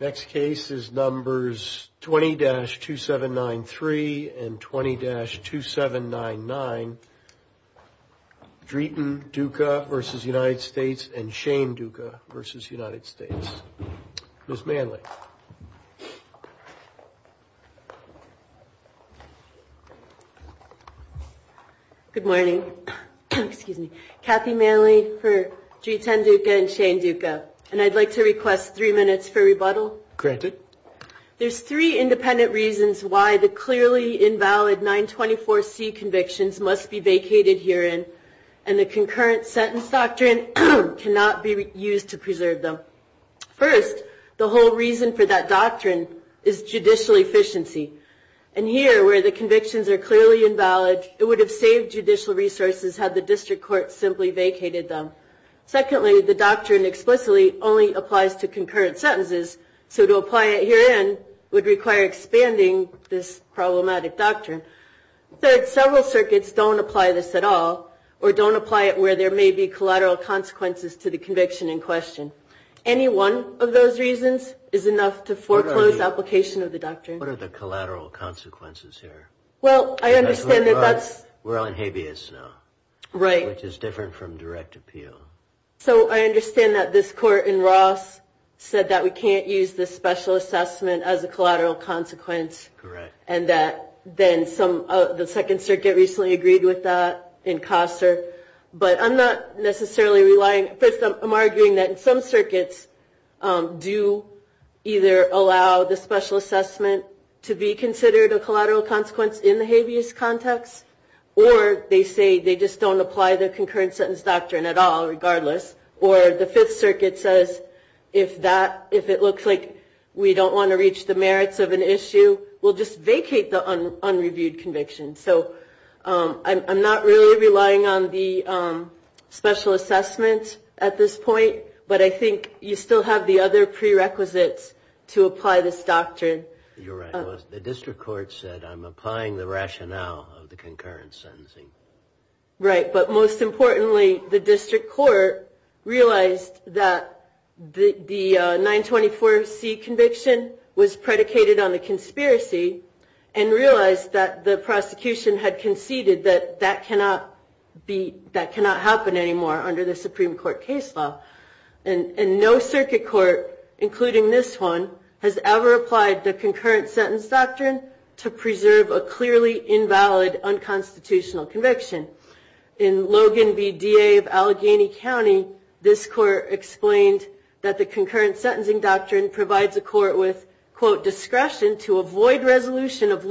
Next case is numbers 20-2793 and 20-2799. Dritan Duka v. United States and Shane Duka v. United States. Ms. Manley. Good morning. Excuse me. Kathy Manley for Dritan Duka and Shane Duka. Granted. There's three independent reasons why the clearly invalid 924C convictions must be vacated herein, and the concurrent sentence doctrine cannot be used to preserve them. First, the whole reason for that doctrine is judicial efficiency. And here, where the convictions are clearly invalid, it would have saved judicial resources had the district court simply vacated them. Secondly, the doctrine explicitly only applies to concurrent sentences, so to apply it herein would require expanding this problematic doctrine. Third, several circuits don't apply this at all or don't apply it where there may be collateral consequences to the conviction in question. Any one of those reasons is enough to foreclose application of the doctrine. What are the collateral consequences here? Well, I understand that that's... We're on habeas now. Right. Which is different from direct appeal. So I understand that this court in Ross said that we can't use this special assessment as a collateral consequence. Correct. And that then some of the Second Circuit recently agreed with that in Kosser. But I'm not necessarily relying... First, I'm arguing that some circuits do either allow the special assessment to be considered a collateral consequence in the habeas context, or they say they just don't apply the concurrent sentence doctrine at all, regardless. Or the Fifth Circuit says if it looks like we don't want to reach the merits of an issue, we'll just vacate the unreviewed conviction. So I'm not really relying on the special assessment at this point. But I think you still have the other prerequisites to apply this doctrine. You're right. The district court said I'm applying the rationale of the concurrent sentencing. Right. But most importantly, the district court realized that the 924C conviction was predicated on a conspiracy and realized that the prosecution had conceded that that cannot happen anymore under the Supreme Court case law. And no circuit court, including this one, has ever applied the concurrent sentence doctrine to preserve a clearly invalid unconstitutional conviction. In Logan v. DA of Allegheny County, this court explained that the concurrent sentencing doctrine provides a court with, quote, of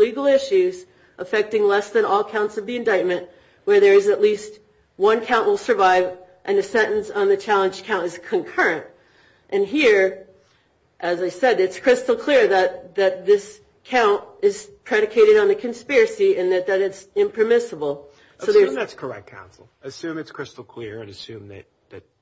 legal issues affecting less than all counts of the indictment, where there is at least one count will survive and the sentence on the challenged count is concurrent. And here, as I said, it's crystal clear that this count is predicated on a conspiracy and that it's impermissible. Assume that's correct, counsel. Assume it's crystal clear and assume that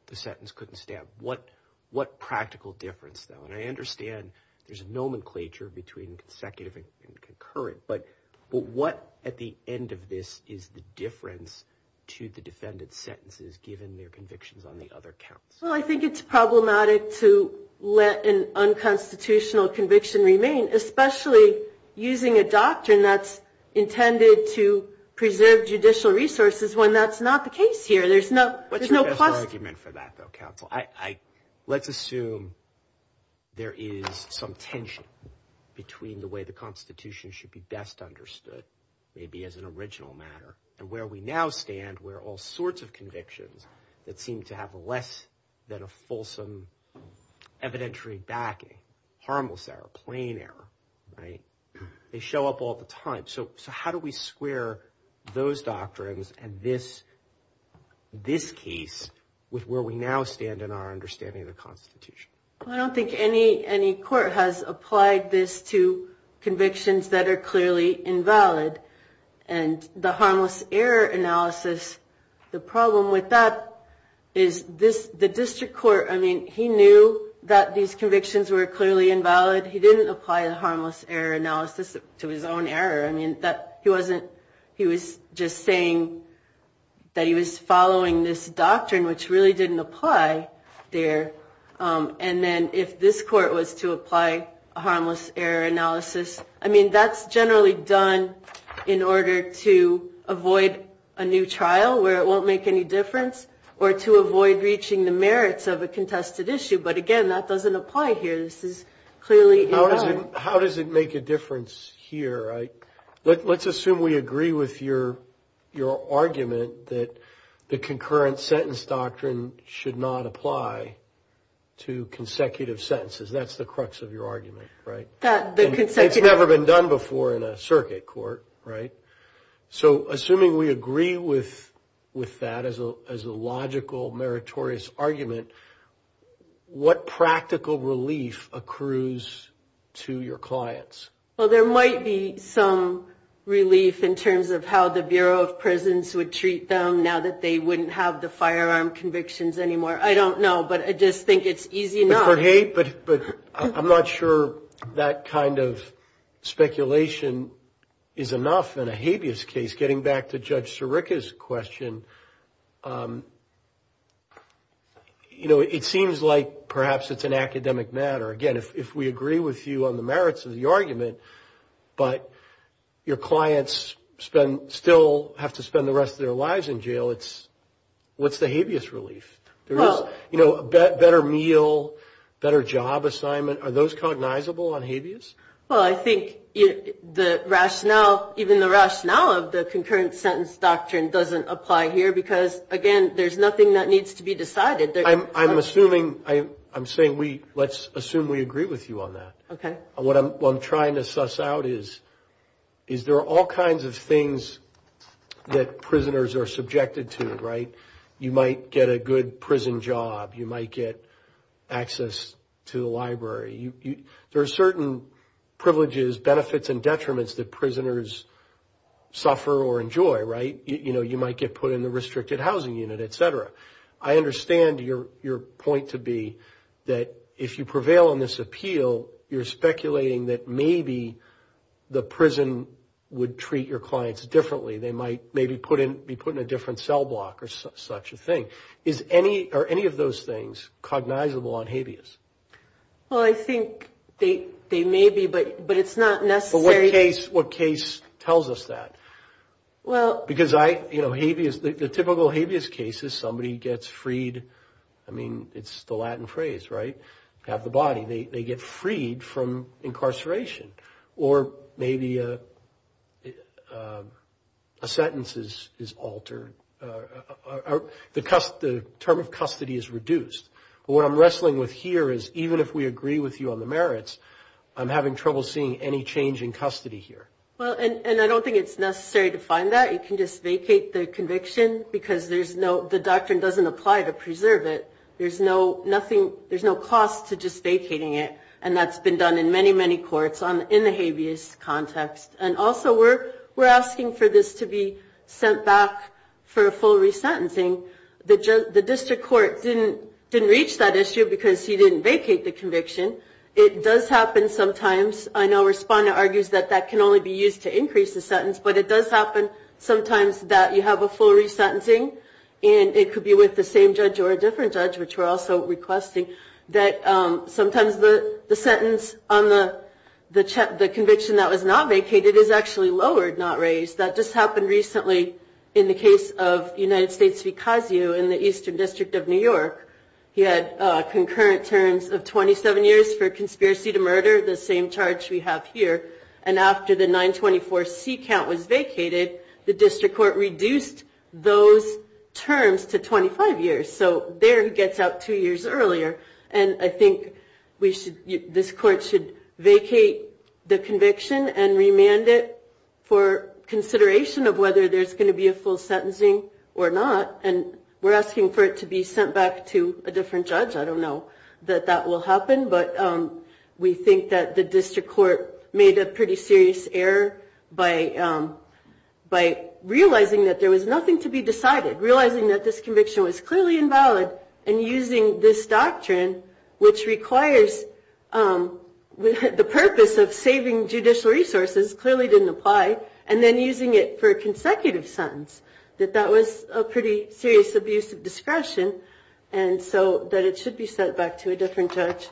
the sentence couldn't stand. What practical difference, though? And I understand there's a nomenclature between consecutive and concurrent, but what at the end of this is the difference to the defendant's sentences given their convictions on the other counts? Well, I think it's problematic to let an unconstitutional conviction remain, especially using a doctrine that's intended to preserve judicial resources when that's not the case here. What's the best argument for that, though, counsel? Let's assume there is some tension between the way the Constitution should be best understood, maybe as an original matter, and where we now stand where all sorts of convictions that seem to have less than a fulsome evidentiary backing, harmless error, plain error, right, they show up all the time. So how do we square those doctrines and this case with where we now stand in our understanding of the Constitution? I don't think any court has applied this to convictions that are clearly invalid. And the harmless error analysis, the problem with that is the district court, I mean, he knew that these convictions were clearly invalid. He didn't apply the harmless error analysis to his own error. I mean, he was just saying that he was following this doctrine, which really didn't apply there. And then if this court was to apply a harmless error analysis, I mean, that's generally done in order to avoid a new trial where it won't make any difference or to avoid reaching the merits of a contested issue. But again, that doesn't apply here. This is clearly invalid. How does it make a difference here? Let's assume we agree with your argument that the concurrent sentence doctrine should not apply to consecutive sentences. That's the crux of your argument, right? It's never been done before in a circuit court, right? So assuming we agree with that as a logical meritorious argument, what practical relief accrues to your clients? Well, there might be some relief in terms of how the Bureau of Prisons would treat them now that they wouldn't have the firearm convictions anymore. I don't know, but I just think it's easy enough. I'm not sure that kind of speculation is enough in a habeas case. Getting back to Judge Sirica's question, you know, it seems like perhaps it's an academic matter. Again, if we agree with you on the merits of the argument, but your clients still have to spend the rest of their lives in jail, what's the habeas relief? You know, a better meal, better job assignment, are those cognizable on habeas? Well, I think the rationale, even the rationale of the concurrent sentence doctrine doesn't apply here because, again, there's nothing that needs to be decided. I'm assuming, I'm saying we, let's assume we agree with you on that. Okay. What I'm trying to suss out is there are all kinds of things that prisoners are subjected to, right? You might get a good prison job. You might get access to the library. There are certain privileges, benefits, and detriments that prisoners suffer or enjoy, right? You know, you might get put in the restricted housing unit, et cetera. I understand your point to be that if you prevail on this appeal, you're speculating that maybe the prison would treat your clients differently. They might maybe be put in a different cell block or such a thing. Are any of those things cognizable on habeas? Well, I think they may be, but it's not necessary. Well, what case tells us that? Well, because I, you know, habeas, the typical habeas case is somebody gets freed. I mean, it's the Latin phrase, right? They get freed from incarceration. Or maybe a sentence is altered. The term of custody is reduced. But what I'm wrestling with here is even if we agree with you on the merits, I'm having trouble seeing any change in custody here. Well, and I don't think it's necessary to find that. You can just vacate the conviction because the doctrine doesn't apply to preserve it. There's no cost to just vacating it, and that's been done in many, many courts in the habeas context. And also we're asking for this to be sent back for a full resentencing. The district court didn't reach that issue because he didn't vacate the conviction. It does happen sometimes. I know Responda argues that that can only be used to increase the sentence, but it does happen sometimes that you have a full resentencing, and it could be with the same judge or a different judge, which we're also requesting, that sometimes the sentence on the conviction that was not vacated is actually lowered, not raised. That just happened recently in the case of United States v. Casio in the Eastern District of New York. He had concurrent terms of 27 years for conspiracy to murder, the same charge we have here. And after the 924C count was vacated, the district court reduced those terms to 25 years. So there he gets out two years earlier. And I think this court should vacate the conviction and remand it for consideration of whether there's going to be a full sentencing or not. And we're asking for it to be sent back to a different judge. I don't know that that will happen, but we think that the district court made a pretty serious error by realizing that there was nothing to be decided, realizing that this conviction was clearly invalid, and using this doctrine, which requires the purpose of saving judicial resources, clearly didn't apply, and then using it for a consecutive sentence, that that was a pretty serious abuse of discretion, and so that it should be sent back to a different judge.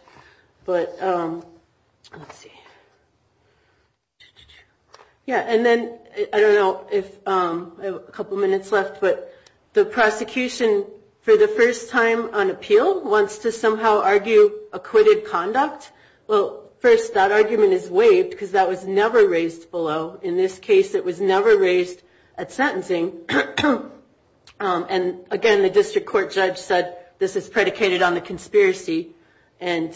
But let's see. Yeah, and then I don't know if I have a couple minutes left, but the prosecution, for the first time on appeal, wants to somehow argue acquitted conduct. Well, first, that argument is waived because that was never raised below. In this case, it was never raised at sentencing. And, again, the district court judge said, this is predicated on the conspiracy, and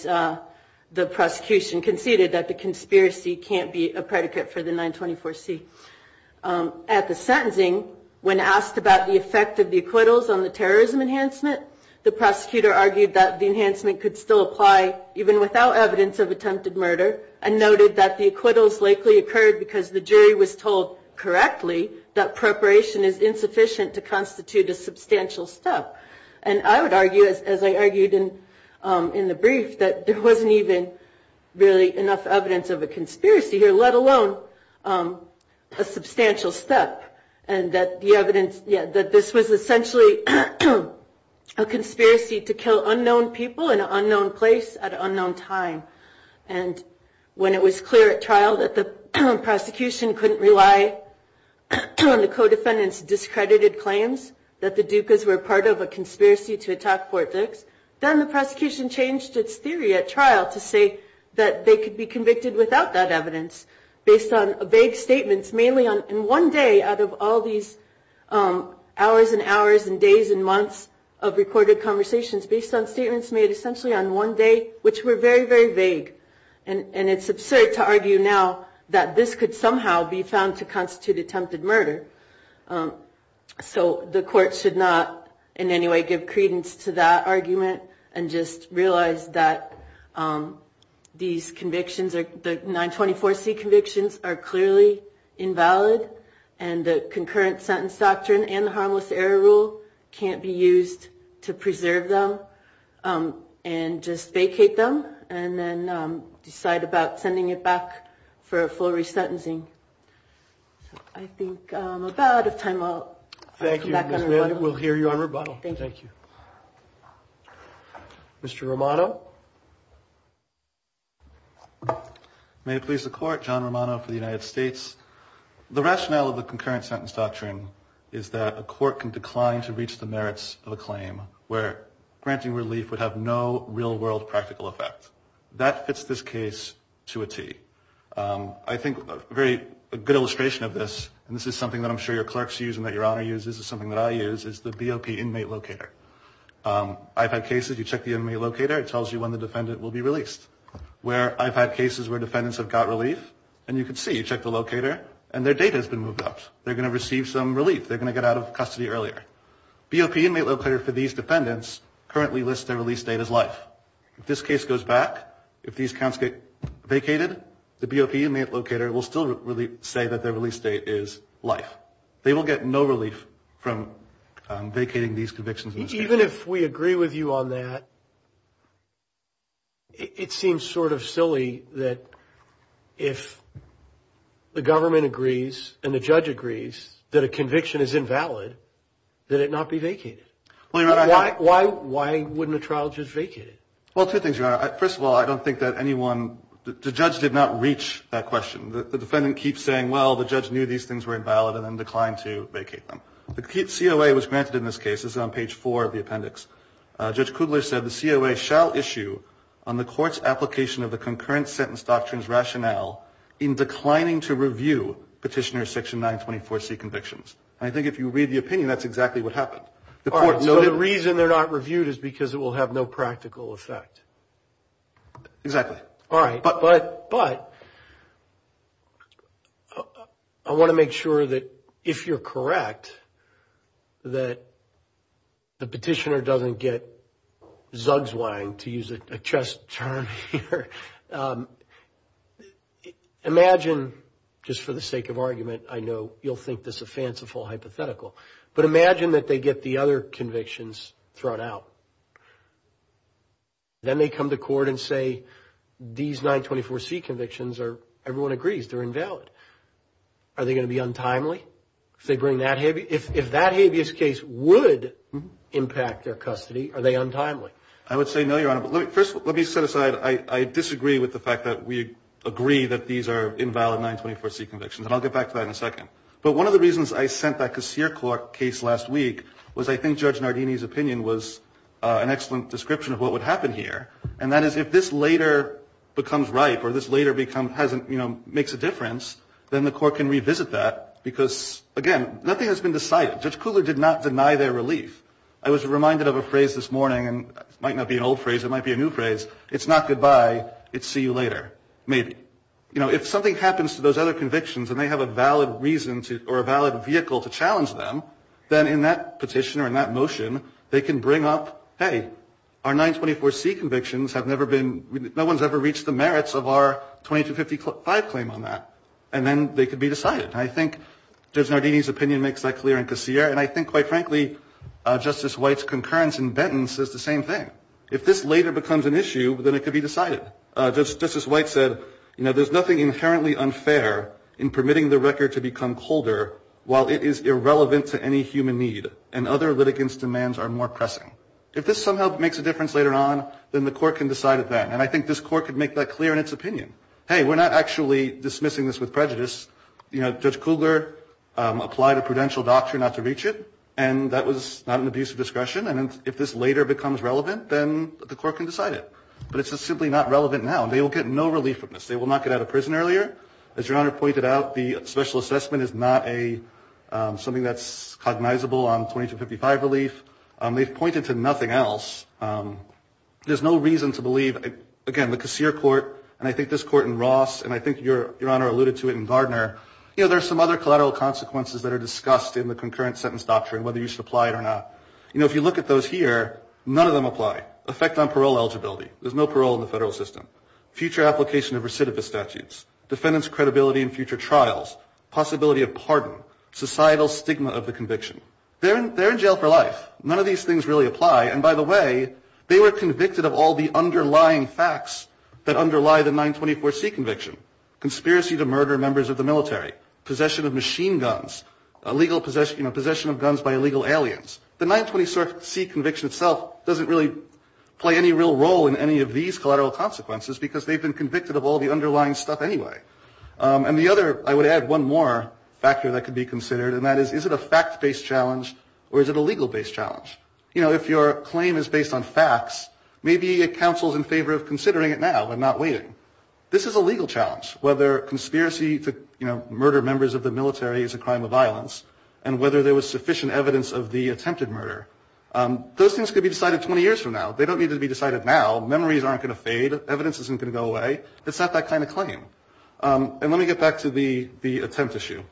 the prosecution conceded that the conspiracy can't be a predicate for the 924C. At the sentencing, when asked about the effect of the acquittals on the terrorism enhancement, the prosecutor argued that the enhancement could still apply, even without evidence of attempted murder, and noted that the acquittals likely occurred because the jury was told correctly that preparation is insufficient to constitute a substantial step. And I would argue, as I argued in the brief, that there wasn't even really enough evidence of a conspiracy here, let alone a substantial step, and that this was essentially a conspiracy to kill unknown people in an unknown place at an unknown time. And when it was clear at trial that the prosecution couldn't rely on the co-defendants' discredited claims that the Dukas were part of a conspiracy to attack Fort Dix, then the prosecution changed its theory at trial to say that they could be convicted without that evidence, based on vague statements, mainly in one day, out of all these hours and hours and days and months of recorded conversations, based on statements made essentially on one day, which were very, very vague. And it's absurd to argue now that this could somehow be found to constitute attempted murder. So the court should not, in any way, give credence to that argument, and just realize that these convictions, the 924C convictions, are clearly invalid, and the concurrent sentence doctrine and the harmless error rule can't be used to preserve them, and just vacate them, and then decide about sending it back for a full re-sentencing. I think I'm about out of time. I'll come back on rebuttal. Thank you. We'll hear you on rebuttal. Thank you. Mr. Romano. May it please the Court, John Romano for the United States. The rationale of the concurrent sentence doctrine is that a court can decline to reach the merits of a claim where granting relief would have no real-world practical effect. That fits this case to a T. I think a good illustration of this, and this is something that I'm sure your clerks use and that your Honor uses, is something that I use, is the BOP inmate locator. I've had cases, you check the inmate locator, it tells you when the defendant will be released. Where I've had cases where defendants have got relief, and you can see, you check the locator, and their date has been moved up. They're going to receive some relief. They're going to get out of custody earlier. BOP inmate locator for these defendants currently lists their release date as life. If this case goes back, if these counts get vacated, the BOP inmate locator will still say that their release date is life. They will get no relief from vacating these convictions. Even if we agree with you on that, it seems sort of silly that if the government agrees and the judge agrees that a conviction is invalid, that it not be vacated. Why wouldn't a trial just vacate it? Well, two things, Your Honor. First of all, I don't think that anyone, the judge did not reach that question. The defendant keeps saying, well, the judge knew these things were invalid and then declined to vacate them. The COA was granted in this case. It's on page 4 of the appendix. Judge Kudler said, the COA shall issue on the court's application of the concurrent sentence doctrines rationale in declining to review petitioner section 924C convictions. And I think if you read the opinion, that's exactly what happened. All right, so the reason they're not reviewed is because it will have no practical effect. Exactly. All right. But I want to make sure that if you're correct, that the petitioner doesn't get zugzwang, to use a chess term here. Imagine, just for the sake of argument, I know you'll think this is a fanciful hypothetical, but imagine that they get the other convictions thrown out. Then they come to court and say, these 924C convictions are, everyone agrees, they're invalid. Are they going to be untimely? If that habeas case would impact their custody, are they untimely? I would say no, Your Honor. First, let me set aside, I disagree with the fact that we agree that these are invalid 924C convictions, and I'll get back to that in a second. But one of the reasons I sent that Casier case last week was I think Judge Nardini's opinion was an excellent description of what would happen here. And that is if this later becomes ripe or this later makes a difference, then the court can revisit that because, again, nothing has been decided. Judge Kuhler did not deny their relief. I was reminded of a phrase this morning, and it might not be an old phrase, it might be a new phrase, it's not goodbye, it's see you later, maybe. If something happens to those other convictions and they have a valid reason or a valid vehicle to challenge them, then in that petition or in that motion, they can bring up, hey, our 924C convictions have never been, no one's ever reached the merits of our 2255 claim on that. And then they can be decided. I think Judge Nardini's opinion makes that clear in Casier. And I think, quite frankly, Justice White's concurrence in Benton says the same thing. If this later becomes an issue, then it can be decided. Justice White said, you know, there's nothing inherently unfair in permitting the record to become colder while it is irrelevant to any human need and other litigants' demands are more pressing. If this somehow makes a difference later on, then the court can decide it then. And I think this court could make that clear in its opinion. Hey, we're not actually dismissing this with prejudice. You know, Judge Kuhler applied a prudential doctrine not to reach it, and that was not an abuse of discretion. And if this later becomes relevant, then the court can decide it. But it's just simply not relevant now. And they will get no relief from this. They will not get out of prison earlier. As Your Honor pointed out, the special assessment is not something that's cognizable on 2255 relief. They've pointed to nothing else. There's no reason to believe, again, the Casier court, and I think this court in Ross, and I think Your Honor alluded to it in Gardner, you know, there are some other collateral consequences that are discussed in the concurrent sentence doctrine, whether you should apply it or not. You know, if you look at those here, none of them apply. Effect on parole eligibility. There's no parole in the federal system. Future application of recidivist statutes. Defendant's credibility in future trials. Possibility of pardon. Societal stigma of the conviction. They're in jail for life. None of these things really apply. And by the way, they were convicted of all the underlying facts that underlie the 924C conviction. Conspiracy to murder members of the military. Possession of machine guns. Illegal possession of guns by illegal aliens. The 924C conviction itself doesn't really play any real role in any of these collateral consequences because they've been convicted of all the underlying stuff anyway. And the other, I would add one more factor that could be considered, and that is, is it a fact-based challenge or is it a legal-based challenge? You know, if your claim is based on facts, maybe it counsels in favor of considering it now and not waiting. This is a legal challenge. Whether conspiracy to, you know, murder members of the military is a crime of violence, and whether there was sufficient evidence of the attempted murder. Those things could be decided 20 years from now. They don't need to be decided now. Memories aren't going to fade. Evidence isn't going to go away. It's not that kind of claim. And let me get back to the attempt issue.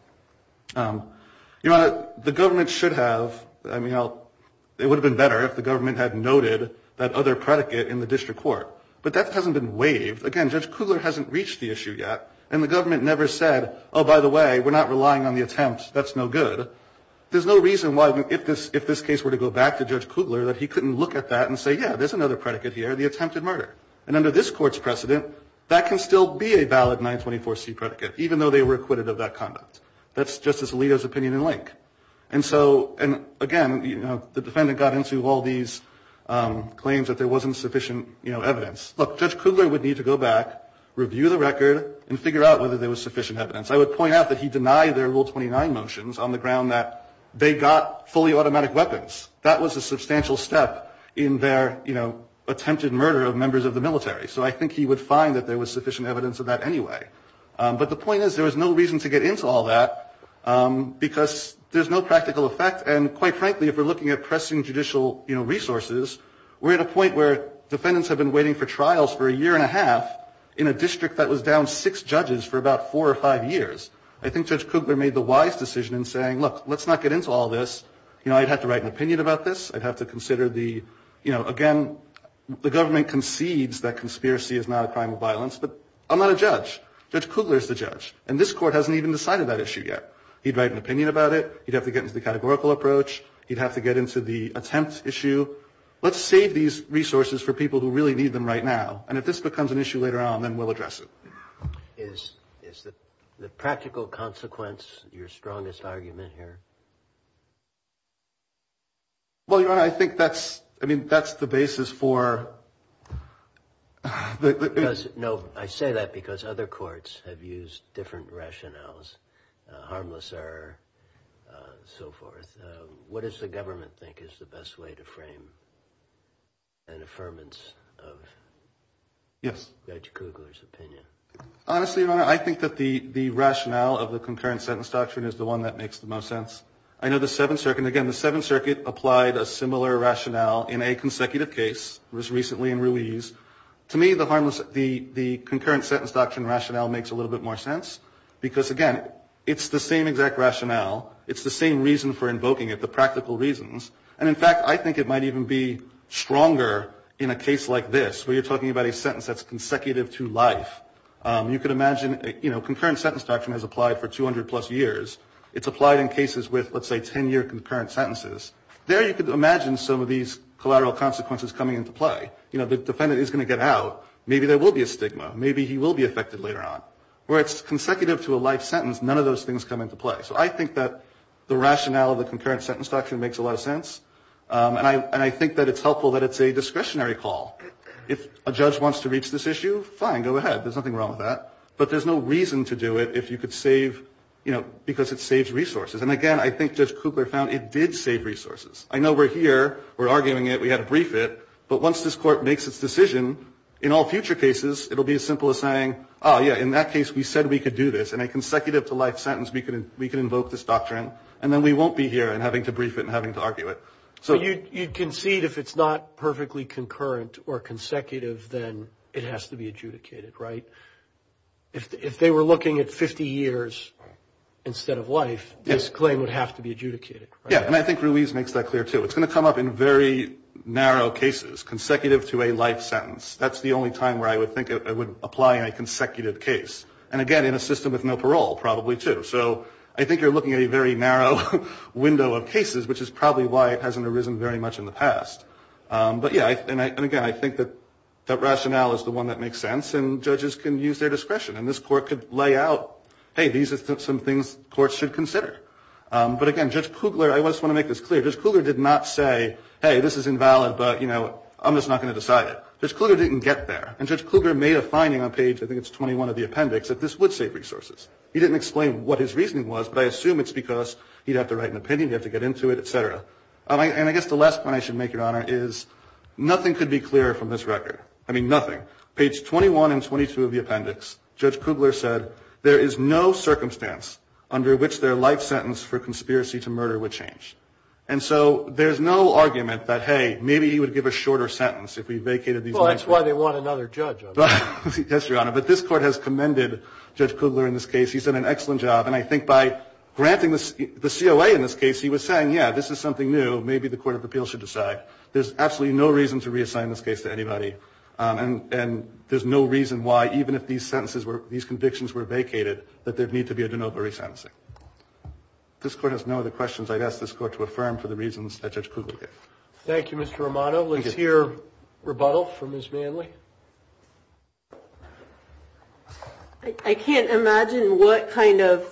You know, the government should have, I mean, it would have been better if the government had noted that other predicate in the district court. But that hasn't been waived. Again, Judge Kugler hasn't reached the issue yet, and the government never said, oh, by the way, we're not relying on the attempt. That's no good. There's no reason why, if this case were to go back to Judge Kugler, that he couldn't look at that and say, yeah, there's another predicate here. It's for the attempted murder. And under this Court's precedent, that can still be a valid 924C predicate, even though they were acquitted of that conduct. That's Justice Alito's opinion in link. And so, and again, you know, the defendant got into all these claims that there wasn't sufficient, you know, evidence. Look, Judge Kugler would need to go back, review the record, and figure out whether there was sufficient evidence. I would point out that he denied their Rule 29 motions on the ground that they got fully automatic weapons. That was a substantial step in their, you know, attempted murder of members of the military. So I think he would find that there was sufficient evidence of that anyway. But the point is, there was no reason to get into all that because there's no practical effect. And quite frankly, if we're looking at pressing judicial, you know, resources, we're at a point where defendants have been waiting for trials for a year and a half in a district that was down six judges for about four or five years. I think Judge Kugler made the wise decision in saying, look, let's not get into all this. You know, I'd have to write an opinion about this. I'd have to consider the, you know, again, the government concedes that conspiracy is not a crime of violence. But I'm not a judge. Judge Kugler is the judge. And this Court hasn't even decided that issue yet. He'd write an opinion about it. He'd have to get into the categorical approach. He'd have to get into the attempt issue. Let's save these resources for people who really need them right now. And if this becomes an issue later on, then we'll address it. Is the practical consequence your strongest argument here? Well, Your Honor, I think that's, I mean, that's the basis for. No, I say that because other courts have used different rationales, harmless error, so forth. What does the government think is the best way to frame an affirmance of Judge Kugler? Honestly, Your Honor, I think that the rationale of the concurrent sentence doctrine is the one that makes the most sense. I know the Seventh Circuit, and again, the Seventh Circuit applied a similar rationale in a consecutive case. It was recently in release. To me, the concurrent sentence doctrine rationale makes a little bit more sense because, again, it's the same exact rationale. It's the same reason for invoking it, the practical reasons. And, in fact, I think it might even be stronger in a case like this where you're applying a sentence that's consecutive to life. You could imagine, you know, concurrent sentence doctrine has applied for 200 plus years. It's applied in cases with, let's say, 10-year concurrent sentences. There you could imagine some of these collateral consequences coming into play. You know, the defendant is going to get out. Maybe there will be a stigma. Maybe he will be affected later on. Where it's consecutive to a life sentence, none of those things come into play. So I think that the rationale of the concurrent sentence doctrine makes a lot of sense. And I think that it's helpful that it's a discretionary call. If a judge wants to reach this issue, fine, go ahead. There's nothing wrong with that. But there's no reason to do it if you could save, you know, because it saves resources. And, again, I think Judge Kugler found it did save resources. I know we're here. We're arguing it. We had to brief it. But once this Court makes its decision, in all future cases, it will be as simple as saying, oh, yeah, in that case, we said we could do this. In a consecutive to life sentence, we can invoke this doctrine. And then we won't be here and having to brief it and having to argue it. So you concede if it's not perfectly concurrent or consecutive, then it has to be adjudicated, right? If they were looking at 50 years instead of life, this claim would have to be adjudicated, right? Yeah. And I think Ruiz makes that clear, too. It's going to come up in very narrow cases, consecutive to a life sentence. That's the only time where I would think it would apply in a consecutive case. And, again, in a system with no parole, probably, too. So I think you're looking at a very narrow window of cases, which is probably why it hasn't arisen very much in the past. But, yeah, and, again, I think that that rationale is the one that makes sense. And judges can use their discretion. And this Court could lay out, hey, these are some things courts should consider. But, again, Judge Kugler, I just want to make this clear, Judge Kugler did not say, hey, this is invalid, but, you know, I'm just not going to decide it. Judge Kugler didn't get there. And Judge Kugler made a finding on page, I think it's 21 of the appendix, that this would save resources. He didn't explain what his reasoning was, but I assume it's because he'd have to make an opinion, he'd have to get into it, et cetera. And I guess the last point I should make, Your Honor, is nothing could be clearer from this record. I mean, nothing. Page 21 and 22 of the appendix, Judge Kugler said there is no circumstance under which their life sentence for conspiracy to murder would change. And so there's no argument that, hey, maybe he would give a shorter sentence if we vacated these. Well, that's why they want another judge. Yes, Your Honor. But this Court has commended Judge Kugler in this case. He's done an excellent job. And I think by granting the COA in this case, he was saying, yeah, this is something new. Maybe the Court of Appeals should decide. There's absolutely no reason to reassign this case to anybody. And there's no reason why, even if these sentences were, these convictions were vacated, that there'd need to be a de novo resentencing. If this Court has no other questions, I'd ask this Court to affirm for the reasons that Judge Kugler gave. Thank you, Mr. Romano. Let's hear rebuttal from Ms. Manley. I can't imagine what kind of,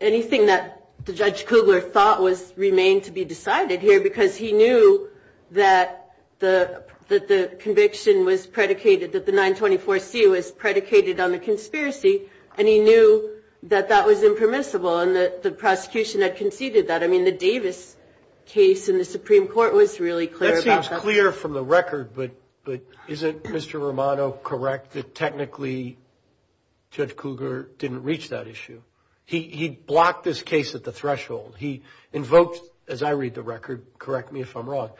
anything that Judge Kugler thought was, remained to be decided here, because he knew that the conviction was predicated, that the 924C was predicated on the conspiracy, and he knew that that was impermissible, and that the prosecution had conceded that. I mean, the Davis case in the Supreme Court was really clear about that. It was clear from the record, but isn't Mr. Romano correct that technically Judge Kugler didn't reach that issue? He blocked this case at the threshold. He invoked, as I read the record, correct me if I'm wrong,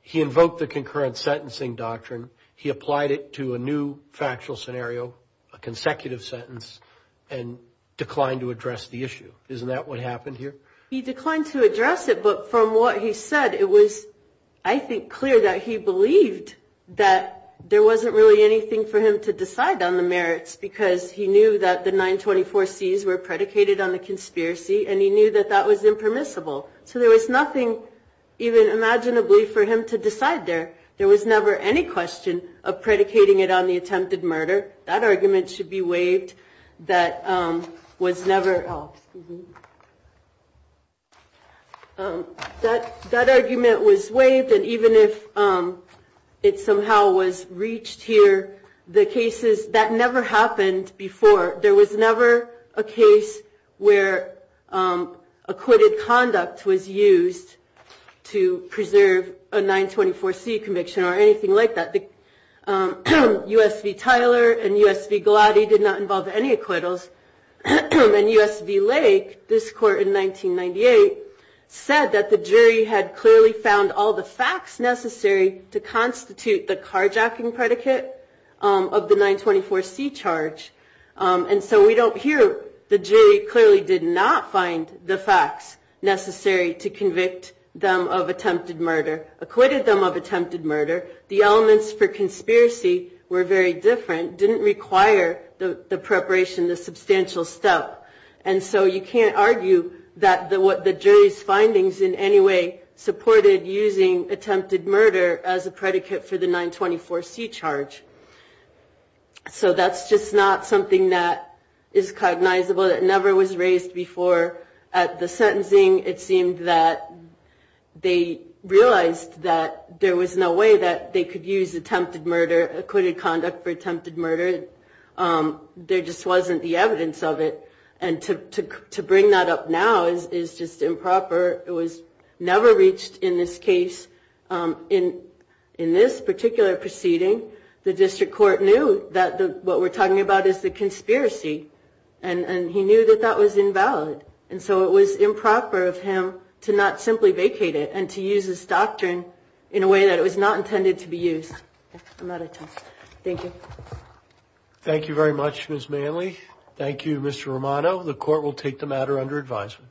he invoked the concurrent sentencing doctrine. He applied it to a new factual scenario, a consecutive sentence, and declined to address the issue. Isn't that what happened here? He declined to address it, but from what he said, it was, I think, clear that he believed that there wasn't really anything for him to decide on the merits, because he knew that the 924Cs were predicated on the conspiracy, and he knew that that was impermissible. So there was nothing, even imaginably, for him to decide there. There was never any question of predicating it on the attempted murder. That argument should be waived. That was never, oh, excuse me. That argument was waived, and even if it somehow was reached here, the cases, that never happened before. There was never a case where acquitted conduct was used to preserve a 924C conviction or anything like that. USV Tyler and USV Gladdy did not involve any acquittals, and USV Lake, this court in 1998, said that the jury had clearly found all the facts necessary to constitute the carjacking predicate of the 924C charge, and so we don't hear, the jury clearly did not find the facts necessary to convict them of attempted murder, acquitted them of attempted murder. The elements for conspiracy were very different, didn't require the preparation, the substantial step, and so you can't argue that the jury's findings in any way supported using attempted murder as a predicate for the 924C charge. So that's just not something that is cognizable, that never was raised before. At the sentencing, it seemed that they realized that there was no way that they could use attempted murder, acquitted conduct for attempted murder. There just wasn't the evidence of it, and to bring that up now is just improper. It was never reached in this case. In this particular proceeding, the district court knew that what we're talking about is the conspiracy, and he knew that that was invalid, and so it was improper of him to not simply vacate it and to use this doctrine in a way that it was not intended to be used. I'm out of time. Thank you. Thank you very much, Ms. Manley. Thank you, Mr. Romano. The court will take the matter under advisement.